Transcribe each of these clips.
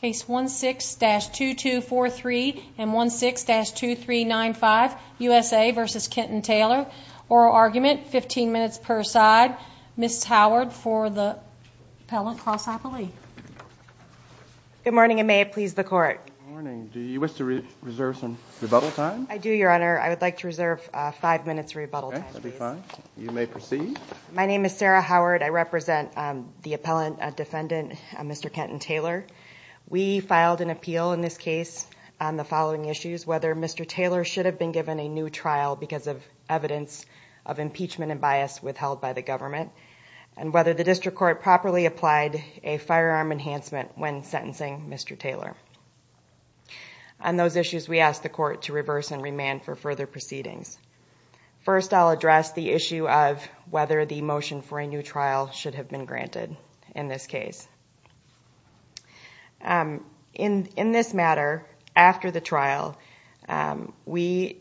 Case 16-2243 and 16-2395 USA v. Kenton Taylor. Oral argument, 15 minutes per side. Ms. Howard for the appellant, cross-appellee. Good morning, and may it please the Court. Good morning. Do you wish to reserve some rebuttal time? I do, Your Honor. I would like to reserve five minutes of rebuttal time. Okay, that would be fine. You may proceed. My name is Sarah Howard. I represent the appellant, defendant, Mr. Kenton Taylor. We filed an appeal in this case on the following issues, whether Mr. Taylor should have been given a new trial because of evidence of impeachment and bias withheld by the government, and whether the District Court properly applied a firearm enhancement when sentencing Mr. Taylor. On those issues, we ask the Court to reverse and remand for further proceedings. First, I'll address the issue of whether the motion for a new trial should have been granted in this case. In this matter, after the trial, we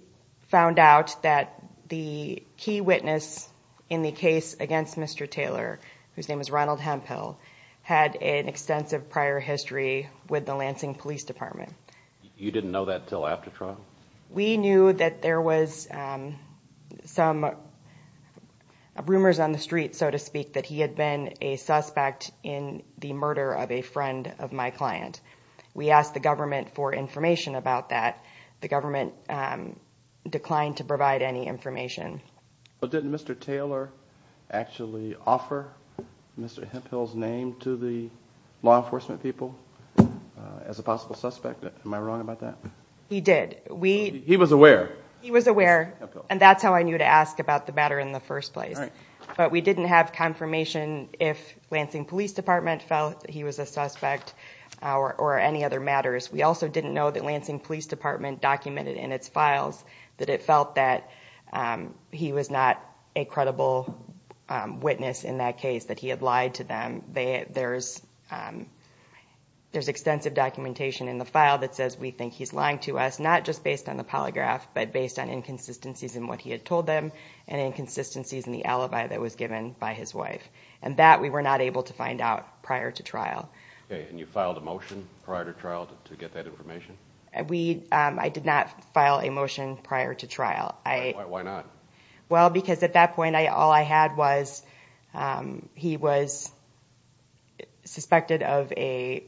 found out that the key witness in the case against Mr. Taylor, whose name is Ronald Hemphill, had an extensive prior history with the Lansing Police Department. You didn't know that until after trial? We knew that there was some rumors on the street, so to speak, that he had been a suspect in the murder of a friend of my client. We asked the government for information about that. The government declined to provide any information. But didn't Mr. Taylor actually offer Mr. Hemphill's name to the law enforcement people as a possible suspect? Am I wrong about that? He did. He was aware? He was aware, and that's how I knew to ask about the matter in the first place. But we didn't have confirmation if Lansing Police Department felt that he was a suspect or any other matters. We also didn't know that Lansing Police Department documented in its files that it felt that he was not a credible witness in that case, that he had lied to them. There's extensive documentation in the file that says we think he's lying to us, not just based on the polygraph, but based on inconsistencies in what he had told them and inconsistencies in the alibi that was given by his wife. And that we were not able to find out prior to trial. And you filed a motion prior to trial to get that information? I did not file a motion prior to trial. Why not? Well, because at that point all I had was he was suspected of a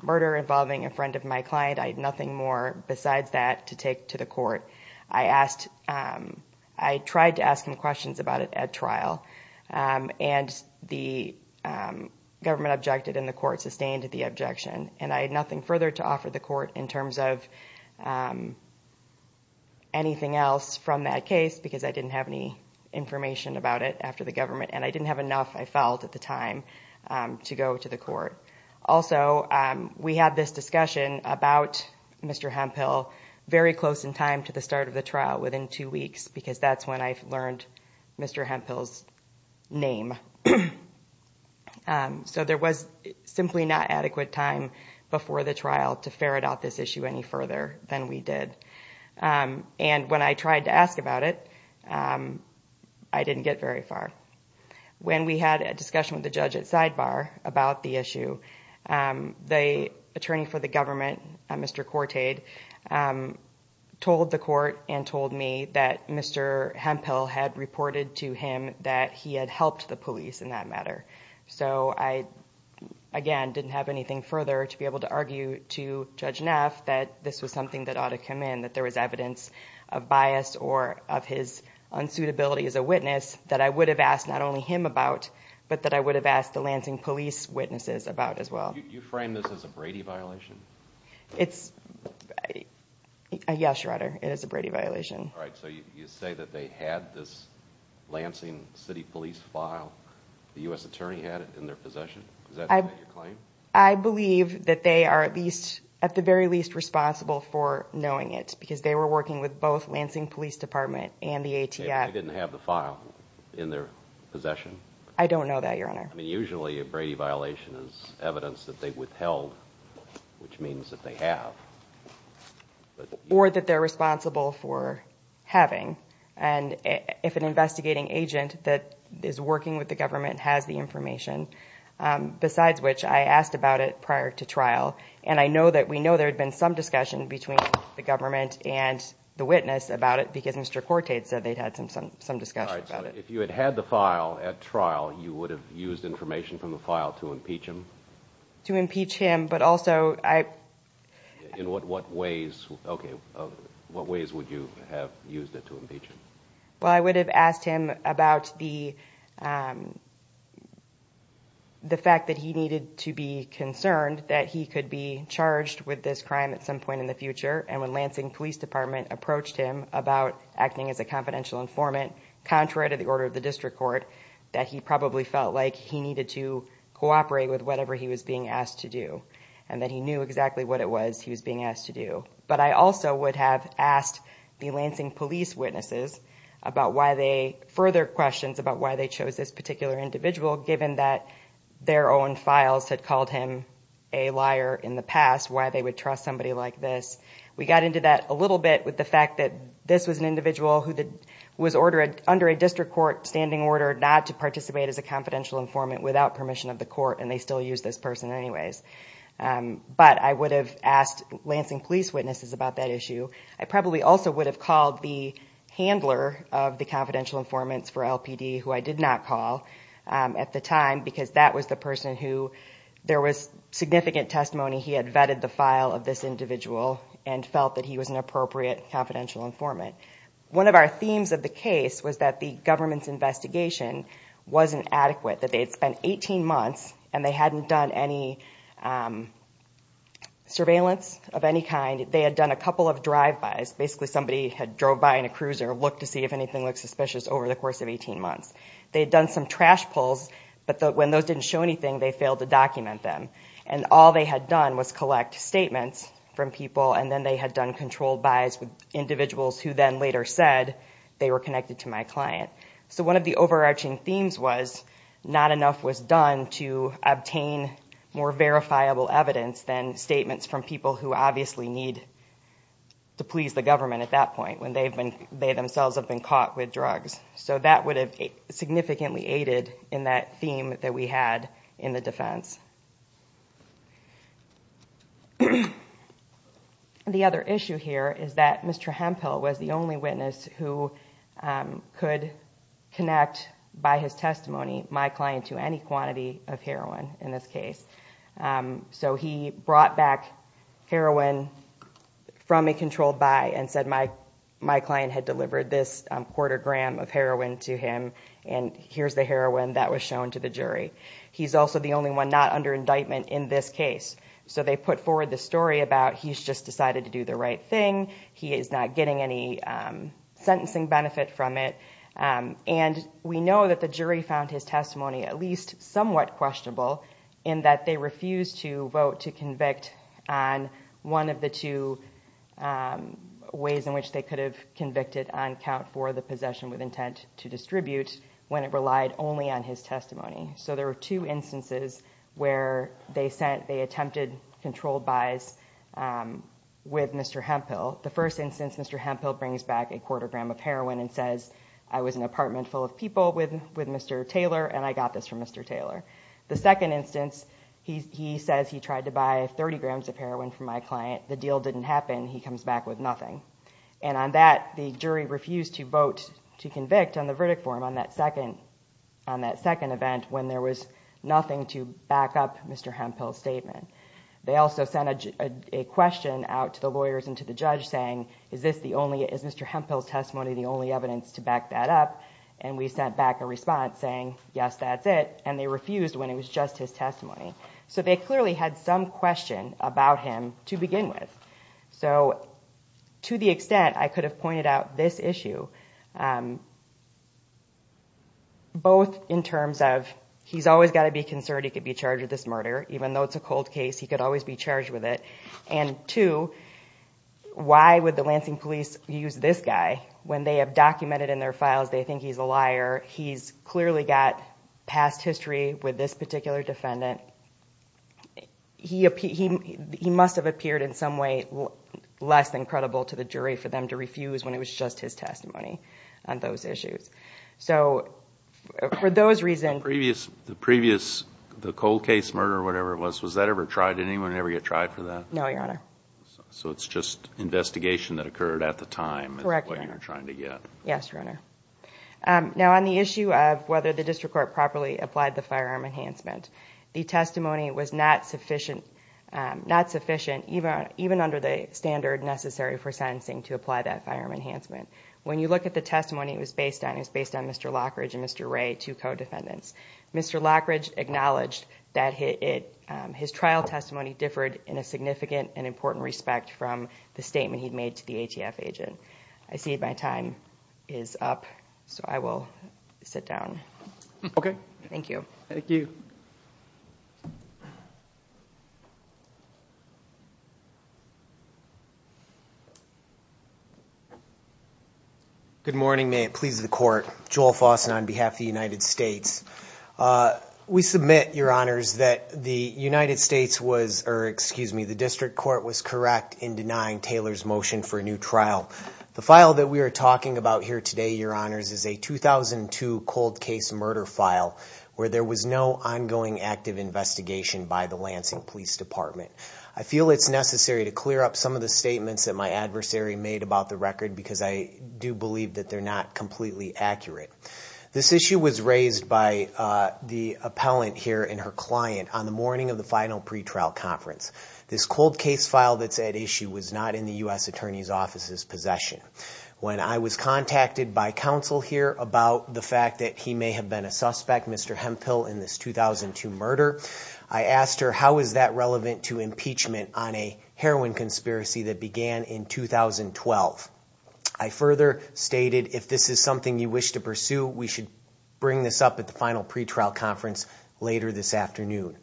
murder involving a friend of my client. I had nothing more besides that to take to the court. I tried to ask him questions about it at trial, and the government objected, and the court sustained the objection. And I had nothing further to offer the court in terms of anything else from that case because I didn't have any information about it after the government, and I didn't have enough, I felt, at the time to go to the court. Also, we had this discussion about Mr. Hemphill very close in time to the start of the trial, within two weeks, because that's when I learned Mr. Hemphill's name. So there was simply not adequate time before the trial to ferret out this issue any further than we did. And when I tried to ask about it, I didn't get very far. When we had a discussion with the judge at Sidebar about the issue, the attorney for the government, Mr. Cortade, told the court and told me that Mr. Hemphill had reported to him that he had helped the police in that matter. So I, again, didn't have anything further to be able to argue to Judge Neff that this was something that ought to come in, that there was evidence of bias or of his unsuitability as a witness that I would have asked not only him about, but that I would have asked the Lansing police witnesses about as well. You frame this as a Brady violation? Yes, Your Honor, it is a Brady violation. All right, so you say that they had this Lansing City Police file, the U.S. attorney had it in their possession? Is that your claim? I believe that they are at the very least responsible for knowing it, because they were working with both Lansing Police Department and the ATF. They didn't have the file in their possession? I don't know that, Your Honor. I mean, usually a Brady violation is evidence that they've withheld, which means that they have. Or that they're responsible for having. And if an investigating agent that is working with the government has the information, besides which I asked about it prior to trial, and I know that we know there had been some discussion between the government and the witness about it because Mr. Quartet said they'd had some discussion about it. If you had had the file at trial, you would have used information from the file to impeach him? To impeach him, but also I... In what ways would you have used it to impeach him? Well, I would have asked him about the fact that he needed to be concerned that he could be charged with this crime at some point in the future. And when Lansing Police Department approached him about acting as a confidential informant, contrary to the order of the district court, that he probably felt like he needed to cooperate with whatever he was being asked to do. And that he knew exactly what it was he was being asked to do. But I also would have asked the Lansing Police witnesses about why they... further questions about why they chose this particular individual, given that their own files had called him a liar in the past, why they would trust somebody like this. We got into that a little bit with the fact that this was an individual who was ordered under a district court standing order not to participate as a confidential informant without permission of the court, and they still use this person anyways. But I would have asked Lansing Police witnesses about that issue. I probably also would have called the handler of the confidential informants for LPD, who I did not call at the time, because that was the person who... There was significant testimony he had vetted the file of this individual and felt that he was an appropriate confidential informant. One of our themes of the case was that the government's investigation wasn't adequate, that they had spent 18 months and they hadn't done any surveillance of any kind. They had done a couple of drive-bys. Basically somebody had drove by in a cruiser and looked to see if anything looked suspicious over the course of 18 months. They had done some trash pulls, but when those didn't show anything, they failed to document them. And all they had done was collect statements from people, and then they had done controlled buys with individuals who then later said they were connected to my client. So one of the overarching themes was not enough was done to obtain more verifiable evidence than statements from people who obviously need to please the government at that point when they themselves have been caught with drugs. So that would have significantly aided in that theme that we had in the defense. The other issue here is that Mr. Hemphill was the only witness who could connect by his testimony my client to any quantity of heroin in this case. So he brought back heroin from a controlled buy and said my client had delivered this quarter gram of heroin to him, and here's the heroin that was shown to the jury. He's also the only one not under indictment in this case. So they put forward the story about he's just decided to do the right thing, he is not getting any sentencing benefit from it. And we know that the jury found his testimony at least somewhat questionable in that they refused to vote to convict on one of the two ways in which they could have convicted on count for the possession with intent to distribute when it relied only on his testimony. So there were two instances where they attempted controlled buys with Mr. Hemphill. The first instance Mr. Hemphill brings back a quarter gram of heroin and says I was in an apartment full of people with Mr. Taylor and I got this from Mr. Taylor. The second instance he says he tried to buy 30 grams of heroin from my client, the deal didn't happen, he comes back with nothing. And on that the jury refused to vote to convict on the verdict form on that second event when there was nothing to back up Mr. Hemphill's statement. They also sent a question out to the lawyers and to the judge saying is Mr. Hemphill's testimony the only evidence to back that up, and we sent back a response saying yes that's it. And they refused when it was just his testimony. So they clearly had some question about him to begin with. So to the extent I could have pointed out this issue, both in terms of he's always got to be concerned he could be charged with this murder, even though it's a cold case he could always be charged with it, and two, why would the Lansing police use this guy when they have documented in their files they think he's a liar, he's clearly got past history with this particular defendant. He must have appeared in some way less than credible to the jury for them to refuse when it was just his testimony on those issues. So for those reasons... The previous, the cold case murder or whatever it was, was that ever tried? Did anyone ever get tried for that? No, Your Honor. So it's just investigation that occurred at the time. Correct, Your Honor. That's what you're trying to get. Yes, Your Honor. Now on the issue of whether the district court properly applied the firearm enhancement, the testimony was not sufficient even under the standard necessary for sentencing to apply that firearm enhancement. When you look at the testimony, it was based on Mr. Lockridge and Mr. Ray, two co-defendants. Mr. Lockridge acknowledged that his trial testimony differed in a significant and important respect from the statement he'd made to the ATF agent. I see my time is up, so I will sit down. Okay. Thank you. Thank you. Good morning. May it please the Court. Joel Fossen on behalf of the United States. We submit, Your Honors, that the United States was, or excuse me, the district court was correct in denying Taylor's motion for a new trial. The file that we are talking about here today, Your Honors, is a 2002 cold case murder file where there was no ongoing active investigation by the Lansing Police Department. I feel it's necessary to clear up some of the statements that my adversary made about the record because I do believe that they're not completely accurate. This issue was raised by the appellant here and her client on the morning of the final pretrial conference. This cold case file that's at issue was not in the U.S. Attorney's Office's possession. When I was contacted by counsel here about the fact that he may have been a suspect, Mr. Hemphill, in this 2002 murder, I asked her how is that relevant to impeachment on a heroin conspiracy that began in 2012. I further stated if this is something you wish to pursue, we should bring this up at the final pretrial conference later this afternoon.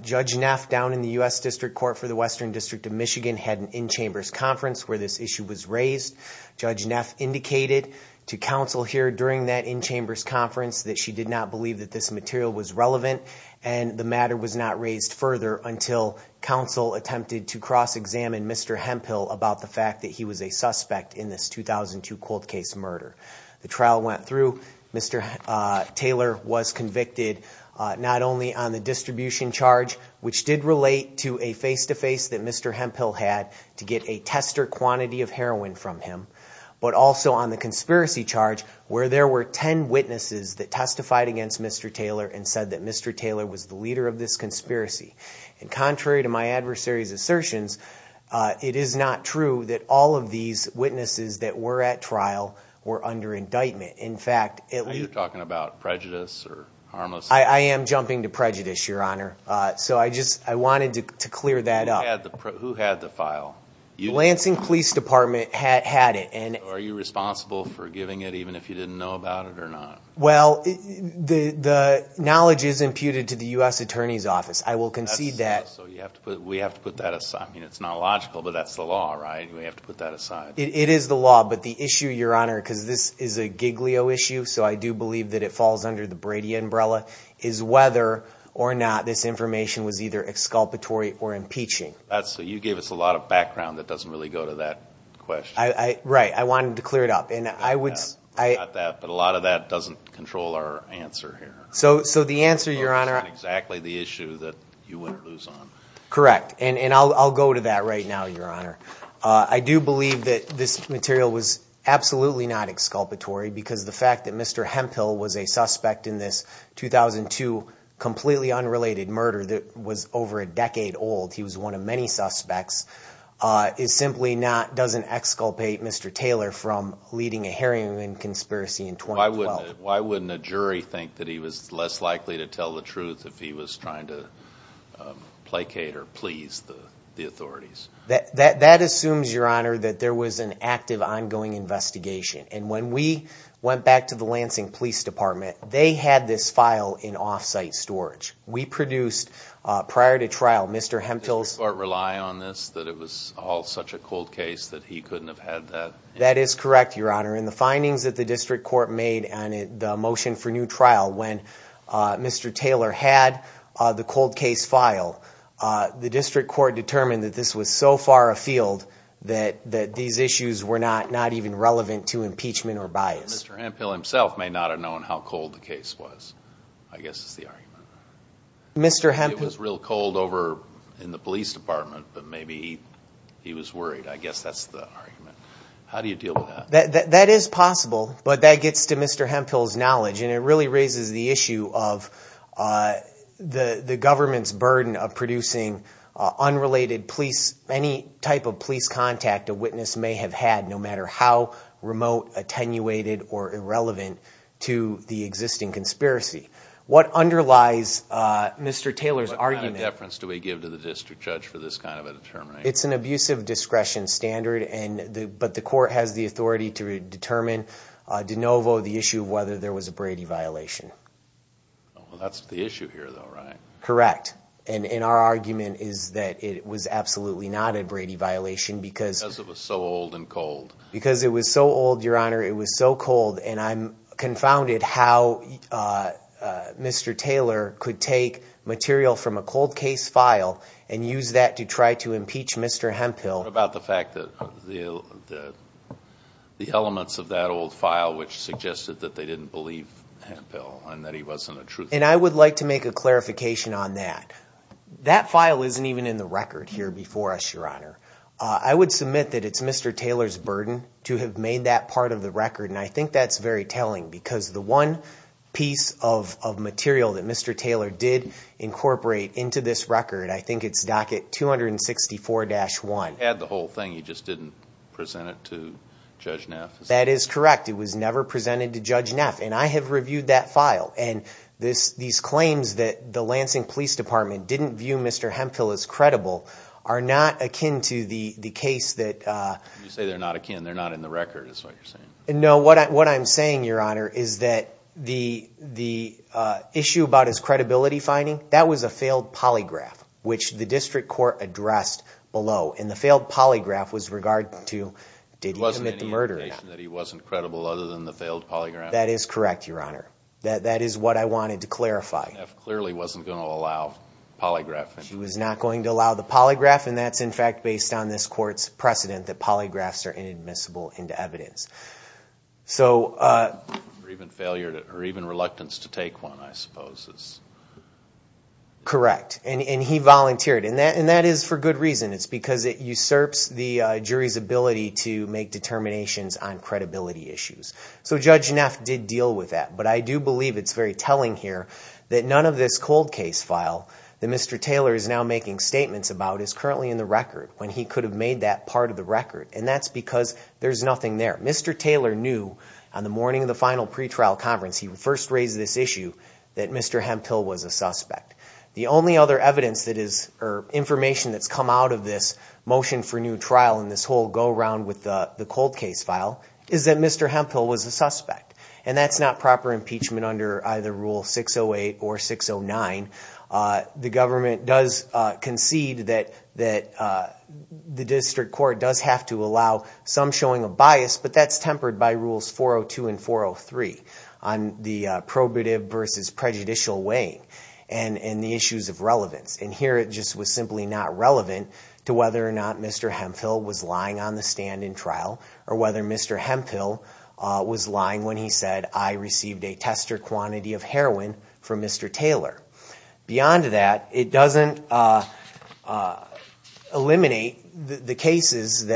Judge Neff, down in the U.S. District Court for the Western District of Michigan, had an in-chambers conference where this issue was raised. Judge Neff indicated to counsel here during that in-chambers conference that she did not believe that this material was relevant, and the matter was not raised further until counsel attempted to cross-examine Mr. Hemphill about the fact that he was a suspect in this 2002 cold case murder. The trial went through. Mr. Taylor was convicted not only on the distribution charge, which did relate to a face-to-face that Mr. Hemphill had to get a tester quantity of heroin from him, but also on the conspiracy charge where there were 10 witnesses that testified against Mr. Taylor and said that Mr. Taylor was the leader of this conspiracy. And contrary to my adversary's assertions, it is not true that all of these witnesses that were at trial were under indictment. In fact, it was— Are you talking about prejudice or harmless— I am jumping to prejudice, Your Honor. So I just wanted to clear that up. Who had the file? Lansing Police Department had it. Are you responsible for giving it even if you didn't know about it or not? Well, the knowledge is imputed to the U.S. Attorney's Office. I will concede that. We have to put that aside. I mean, it's not logical, but that's the law, right? We have to put that aside. It is the law. But the issue, Your Honor, because this is a Giglio issue, so I do believe that it falls under the Brady umbrella, is whether or not this information was either exculpatory or impeaching. You gave us a lot of background that doesn't really go to that question. Right. I wanted to clear it up. I got that, but a lot of that doesn't control our answer here. So the answer, Your Honor— It's not exactly the issue that you want to lose on. Correct, and I'll go to that right now, Your Honor. I do believe that this material was absolutely not exculpatory because the fact that Mr. Hemphill was a suspect in this 2002 completely unrelated murder that was over a decade old, he was one of many suspects, it simply doesn't exculpate Mr. Taylor from leading a heroin conspiracy in 2012. Why wouldn't a jury think that he was less likely to tell the truth if he was trying to placate or please the authorities? That assumes, Your Honor, that there was an active, ongoing investigation. And when we went back to the Lansing Police Department, they had this file in off-site storage. We produced, prior to trial, Mr. Hemphill's— Did the court rely on this, that it was all such a cold case that he couldn't have had that? That is correct, Your Honor. In the findings that the district court made on the motion for new trial, when Mr. Taylor had the cold case file, the district court determined that this was so far afield that these issues were not even relevant to impeachment or bias. Mr. Hemphill himself may not have known how cold the case was, I guess is the argument. It was real cold over in the police department, but maybe he was worried. I guess that's the argument. How do you deal with that? That is possible, but that gets to Mr. Hemphill's knowledge, and it really raises the issue of the government's burden of producing unrelated police— any type of police contact a witness may have had, no matter how remote, attenuated, or irrelevant to the existing conspiracy. What underlies Mr. Taylor's argument— What kind of deference do we give to the district judge for this kind of a determination? It's an abusive discretion standard, but the court has the authority to determine de novo the issue of whether there was a Brady violation. Well, that's the issue here, though, right? Correct. And our argument is that it was absolutely not a Brady violation because— Because it was so old and cold. Because it was so old, Your Honor, it was so cold, and I'm confounded how Mr. Taylor could take material from a cold case file and use that to try to impeach Mr. Hemphill. What about the fact that the elements of that old file, which suggested that they didn't believe Hemphill and that he wasn't a true— And I would like to make a clarification on that. That file isn't even in the record here before us, Your Honor. I would submit that it's Mr. Taylor's burden to have made that part of the record, and I think that's very telling because the one piece of material that Mr. Taylor did incorporate into this record, I think it's docket 264-1. He had the whole thing, he just didn't present it to Judge Neff. That is correct. It was never presented to Judge Neff, and I have reviewed that file. And these claims that the Lansing Police Department didn't view Mr. Hemphill as credible are not akin to the case that— You say they're not akin. They're not in the record is what you're saying. No, what I'm saying, Your Honor, is that the issue about his credibility finding, that was a failed polygraph, which the district court addressed below. And the failed polygraph was regarded to, did he commit the murder or not? It wasn't any indication that he wasn't credible other than the failed polygraph? That is correct, Your Honor. That is what I wanted to clarify. Neff clearly wasn't going to allow polygraphing. He was not going to allow the polygraph, and that's in fact based on this court's precedent that polygraphs are inadmissible into evidence. Or even reluctance to take one, I suppose. Correct. And he volunteered, and that is for good reason. It's because it usurps the jury's ability to make determinations on credibility issues. So Judge Neff did deal with that. But I do believe it's very telling here that none of this cold case file that Mr. Taylor is now making statements about is currently in the record when he could have made that part of the record. And that's because there's nothing there. Mr. Taylor knew on the morning of the final pretrial conference, he first raised this issue, that Mr. Hemphill was a suspect. The only other evidence that is, or information that's come out of this motion for new trial and this whole go-around with the cold case file is that Mr. Hemphill was a suspect. And that's not proper impeachment under either Rule 608 or 609. The government does concede that the district court does have to allow some showing of bias, but that's tempered by Rules 402 and 403 on the probative versus prejudicial way and the issues of relevance. And here it just was simply not relevant to whether or not Mr. Hemphill was lying on the stand in trial or whether Mr. Hemphill was lying when he said, I received a tester quantity of heroin from Mr. Taylor. Beyond that, it doesn't eliminate the cases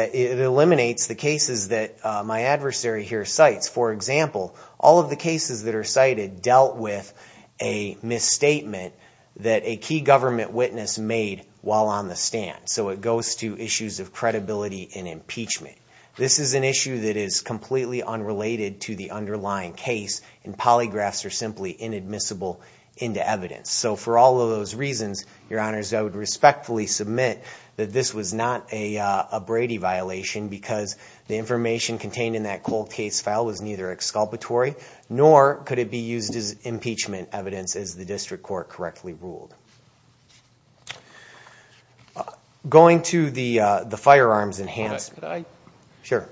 that my adversary here cites. For example, all of the cases that are cited dealt with a misstatement that a key government witness made while on the stand. So it goes to issues of credibility in impeachment. This is an issue that is completely unrelated to the underlying case and polygraphs are simply inadmissible into evidence. So for all of those reasons, Your Honors, I would respectfully submit that this was not a Brady violation because the information contained in that cold case file was neither exculpatory nor could it be used as impeachment evidence as the district court correctly ruled. Thank you. Going to the firearms enhancement. Could I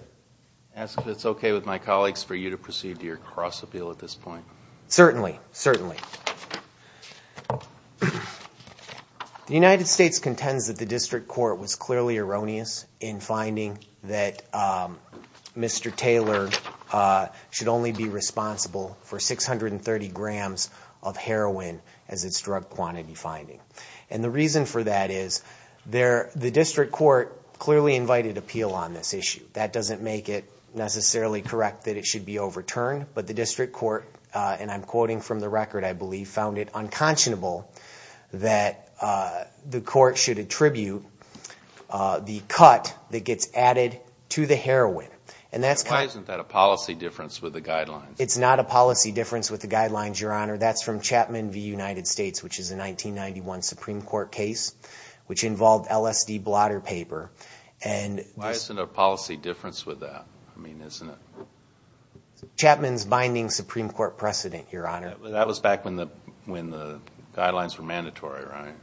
ask if it's okay with my colleagues for you to proceed to your cross appeal at this point? Certainly, certainly. The United States contends that the district court was clearly erroneous in finding that Mr. Taylor should only be responsible for 630 grams of heroin as its drug quantity finding. And the reason for that is the district court clearly invited appeal on this issue. That doesn't make it necessarily correct that it should be overturned, but the district court, and I'm quoting from the record, I believe, found it unconscionable that the court should attribute the cut that gets added to the heroin. Why isn't that a policy difference with the guidelines? It's not a policy difference with the guidelines, Your Honor. That's from Chapman v. United States, which is a 1991 Supreme Court case, which involved LSD blotter paper. Why isn't there a policy difference with that? Chapman's binding Supreme Court precedent, Your Honor. That was back when the guidelines were mandatory, right?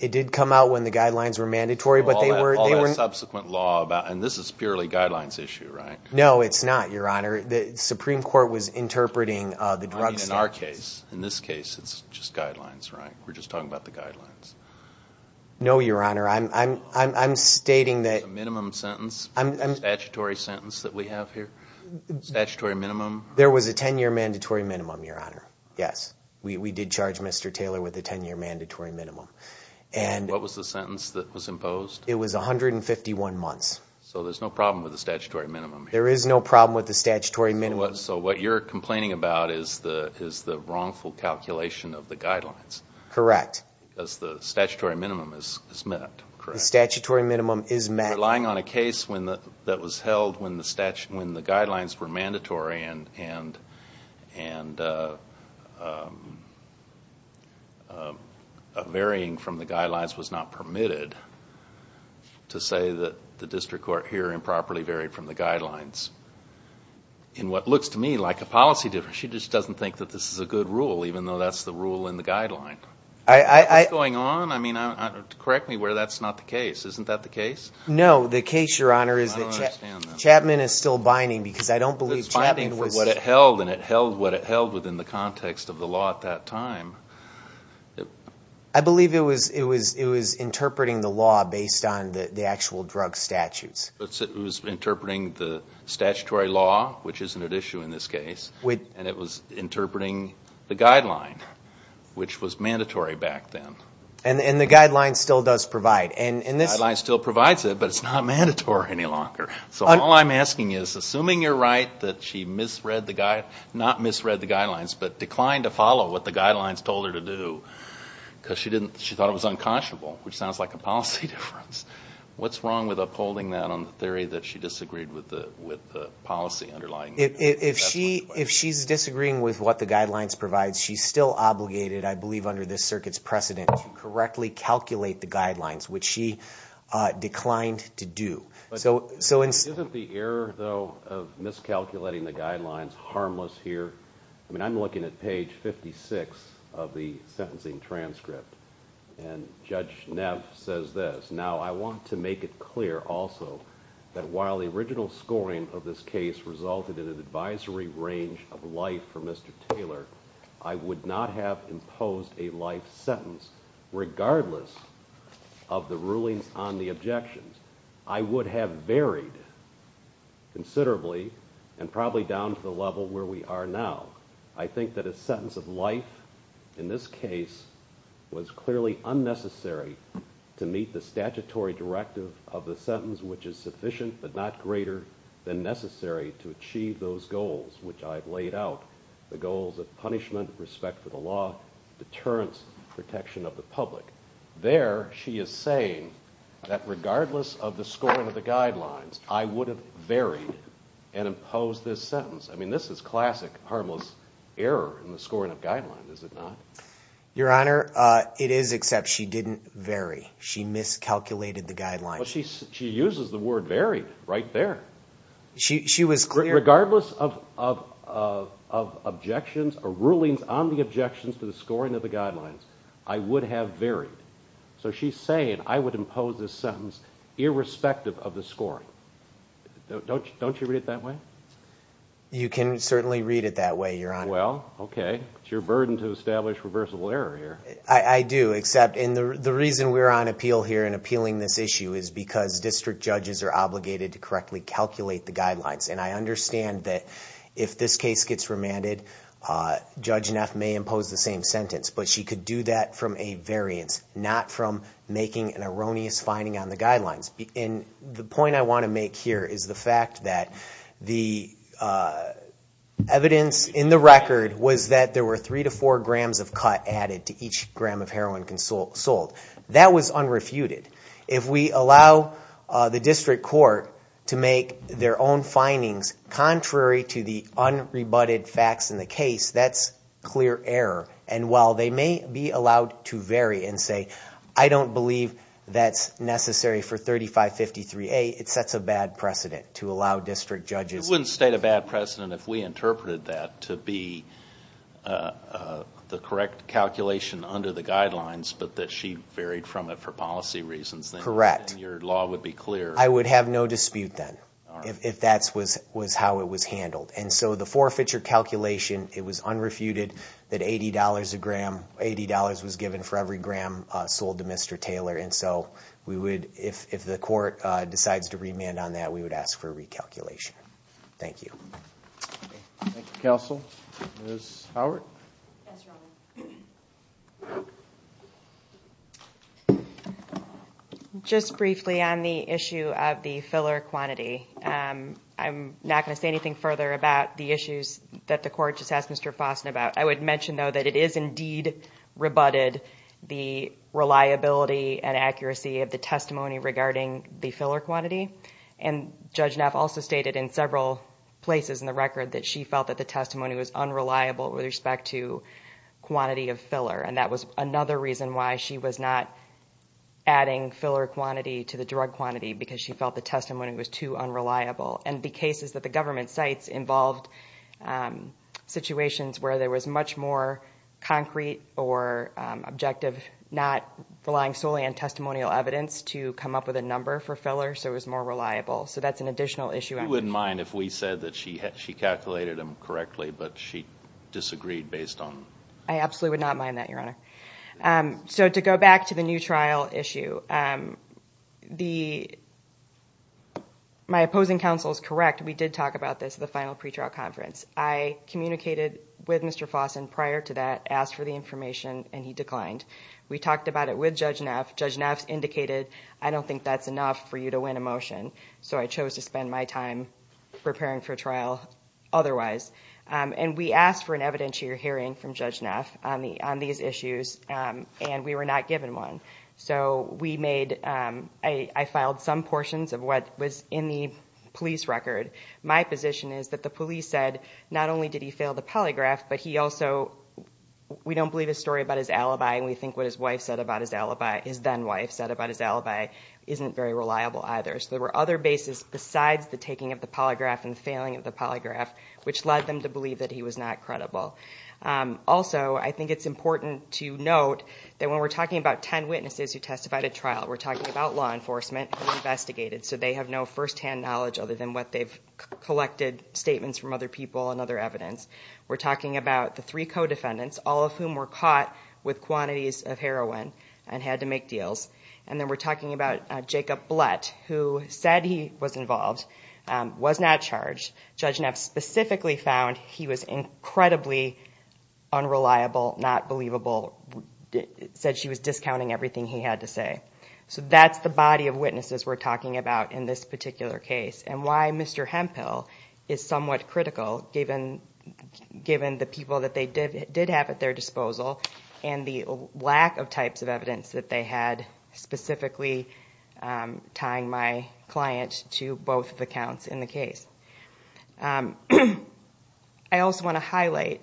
It did come out when the guidelines were mandatory. And this is purely guidelines issue, right? No, it's not, Your Honor. The Supreme Court was interpreting the drug standards. In our case, in this case, it's just guidelines, right? We're just talking about the guidelines. No, Your Honor. I'm stating that. Minimum sentence? Statutory sentence that we have here? Statutory minimum? There was a 10-year mandatory minimum, Your Honor. Yes. We did charge Mr. Taylor with a 10-year mandatory minimum. What was the sentence that was imposed? It was 151 months. So there's no problem with the statutory minimum here? There is no problem with the statutory minimum. So what you're complaining about is the wrongful calculation of the guidelines? Correct. Because the statutory minimum is met, correct? The statutory minimum is met. You're relying on a case that was held when the guidelines were mandatory and a varying from the guidelines was not permitted to say that the district court here improperly varied from the guidelines. In what looks to me like a policy difference, she just doesn't think that this is a good rule, even though that's the rule in the guideline. What's going on? I mean, correct me where that's not the case. Isn't that the case? No, the case, Your Honor, is that Chapman is still binding because I don't believe Chapman was… It's binding for what it held, and it held what it held within the context of the law at that time. I believe it was interpreting the law based on the actual drug statutes. It was interpreting the statutory law, which isn't at issue in this case, and it was interpreting the guideline, which was mandatory back then. And the guideline still does provide. The guideline still provides it, but it's not mandatory any longer. So all I'm asking is, assuming you're right that she misread the guidelines, not misread the guidelines, but declined to follow what the guidelines told her to do because she thought it was unconscionable, which sounds like a policy difference, what's wrong with upholding that on the theory that she disagreed with the policy underlying it? If she's disagreeing with what the guidelines provide, she's still obligated, I believe, under this circuit's precedent to correctly calculate the guidelines, which she declined to do. Isn't the error, though, of miscalculating the guidelines harmless here? I mean, I'm looking at page 56 of the sentencing transcript, and Judge Neff says this. Now, I want to make it clear also that while the original scoring of this case resulted in an advisory range of life for Mr. Taylor, I would not have imposed a life sentence regardless of the rulings on the objections. I would have varied considerably and probably down to the level where we are now. I think that a sentence of life in this case was clearly unnecessary to meet the statutory directive of the sentence, which is sufficient but not greater than necessary to achieve those goals, which I have laid out, the goals of punishment, respect for the law, deterrence, protection of the public. There, she is saying that regardless of the scoring of the guidelines, I would have varied and imposed this sentence. I mean, this is classic harmless error in the scoring of guidelines, is it not? Your Honor, it is, except she didn't vary. She miscalculated the guidelines. Well, she uses the word varied right there. Regardless of rulings on the objections to the scoring of the guidelines, I would have varied. So she is saying I would impose this sentence irrespective of the scoring. Don't you read it that way? You can certainly read it that way, Your Honor. Well, okay. It is your burden to establish reversible error here. I do, except the reason we are on appeal here and appealing this issue is because district judges are obligated to correctly calculate the guidelines. And I understand that if this case gets remanded, Judge Neff may impose the same sentence. But she could do that from a variance, not from making an erroneous finding on the guidelines. And the point I want to make here is the fact that the evidence in the record was that there were three to four grams of cut added to each gram of heroin sold. That was unrefuted. If we allow the district court to make their own findings contrary to the unrebutted facts in the case, that's clear error. And while they may be allowed to vary and say, I don't believe that's necessary for 3553A, it sets a bad precedent to allow district judges. It wouldn't state a bad precedent if we interpreted that to be the correct calculation under the guidelines, but that she varied from it for policy reasons. Correct. Then your law would be clear. I would have no dispute then if that was how it was handled. And so the forfeiture calculation, it was unrefuted that $80 a gram, $80 was given for every gram sold to Mr. Taylor. And so if the court decides to remand on that, we would ask for a recalculation. Thank you. Thank you, counsel. Ms. Howard? Yes, Your Honor. Just briefly on the issue of the filler quantity, I'm not going to say anything further about the issues that the court just asked Mr. Fossen about. I would mention, though, that it is indeed rebutted the reliability and accuracy of the testimony regarding the filler quantity. And Judge Neff also stated in several places in the record that she felt that the testimony was unreliable with respect to quantity of filler, and that was another reason why she was not adding filler quantity to the drug quantity, because she felt the testimony was too unreliable. And the case is that the government sites involved situations where there was much more concrete or objective not relying solely on testimonial evidence to come up with a number for filler, so it was more reliable. So that's an additional issue. She wouldn't mind if we said that she calculated them correctly, but she disagreed based on. I absolutely would not mind that, Your Honor. So to go back to the new trial issue, my opposing counsel is correct. We did talk about this at the final pretrial conference. I communicated with Mr. Fossen prior to that, asked for the information, and he declined. We talked about it with Judge Neff. Judge Neff indicated, I don't think that's enough for you to win a motion, so I chose to spend my time preparing for trial otherwise. And we asked for an evidentiary hearing from Judge Neff on these issues, and we were not given one. So we made, I filed some portions of what was in the police record. My position is that the police said not only did he fail the polygraph, but he also, we don't believe his story about his alibi, and we think what his wife said about his alibi, his then-wife said about his alibi, isn't very reliable either. So there were other bases besides the taking of the polygraph and the failing of the polygraph, which led them to believe that he was not credible. Also, I think it's important to note that when we're talking about ten witnesses who testified at trial, we're talking about law enforcement who investigated, so they have no firsthand knowledge other than what they've collected statements from other people and other evidence. We're talking about the three co-defendants, all of whom were caught with quantities of heroin and had to make deals. And then we're talking about Jacob Blatt, who said he was involved, was not charged. Judge Neff specifically found he was incredibly unreliable, not believable, said she was discounting everything he had to say. So that's the body of witnesses we're talking about in this particular case and why Mr. Hemphill is somewhat critical, given the people that they did have at their disposal and the lack of types of evidence that they had, specifically tying my client to both accounts in the case. I also want to highlight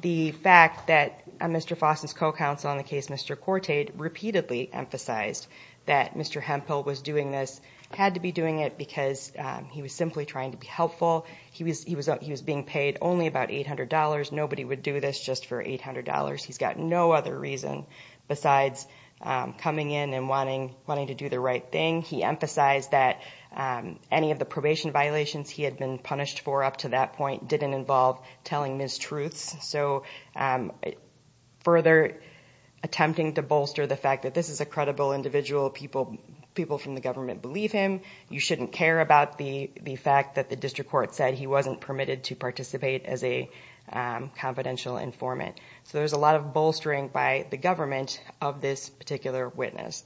the fact that Mr. Foss' co-counsel on the case, Mr. Cortade, repeatedly emphasized that Mr. Hemphill was doing this, had to be doing it, because he was simply trying to be helpful. He was being paid only about $800. Nobody would do this just for $800. He's got no other reason besides coming in and wanting to do the right thing. He emphasized that any of the probation violations he had been punished for up to that point didn't involve telling mistruths. So further attempting to bolster the fact that this is a credible individual, people from the government believe him, you shouldn't care about the fact that the district court said he wasn't permitted to participate as a confidential informant. So there's a lot of bolstering by the government of this particular witness,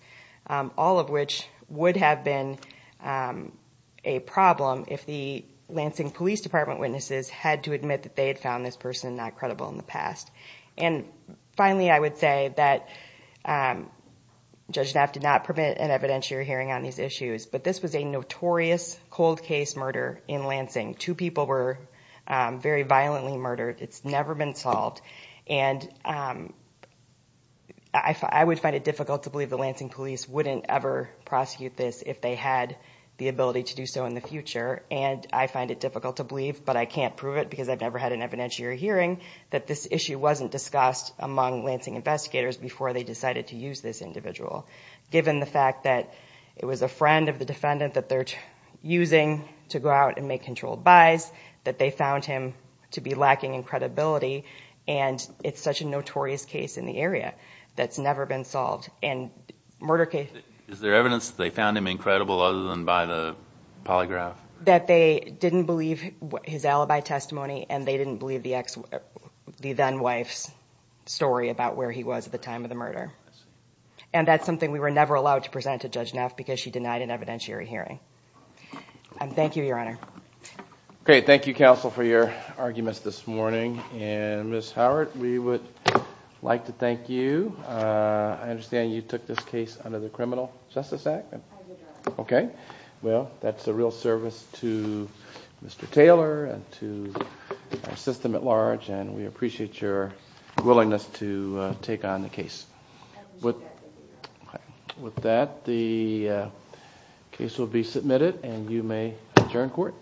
all of which would have been a problem if the Lansing Police Department witnesses had to admit that they had found this person not credible in the past. And finally, I would say that Judge Knapp did not permit an evidentiary hearing on these issues, but this was a notorious cold case murder in Lansing. Two people were very violently murdered. It's never been solved, and I would find it difficult to believe the Lansing police wouldn't ever prosecute this if they had the ability to do so in the future. And I find it difficult to believe, but I can't prove it because I've never had an evidentiary hearing, that this issue wasn't discussed among Lansing investigators before they decided to use this individual. Given the fact that it was a friend of the defendant that they're using to go out and make controlled buys, that they found him to be lacking in credibility, and it's such a notorious case in the area that's never been solved. Is there evidence that they found him incredible other than by the polygraph? That they didn't believe his alibi testimony, and they didn't believe the then-wife's story about where he was at the time of the murder. And that's something we were never allowed to present to Judge Knapp because she denied an evidentiary hearing. And thank you, Your Honor. Okay, thank you, counsel, for your arguments this morning. And Ms. Howard, we would like to thank you. I understand you took this case under the Criminal Justice Act? I did, Your Honor. Okay. Well, that's a real service to Mr. Taylor and to our system at large, and we appreciate your willingness to take on the case. I appreciate that, thank you, Your Honor. With that, the case will be submitted, and you may adjourn court.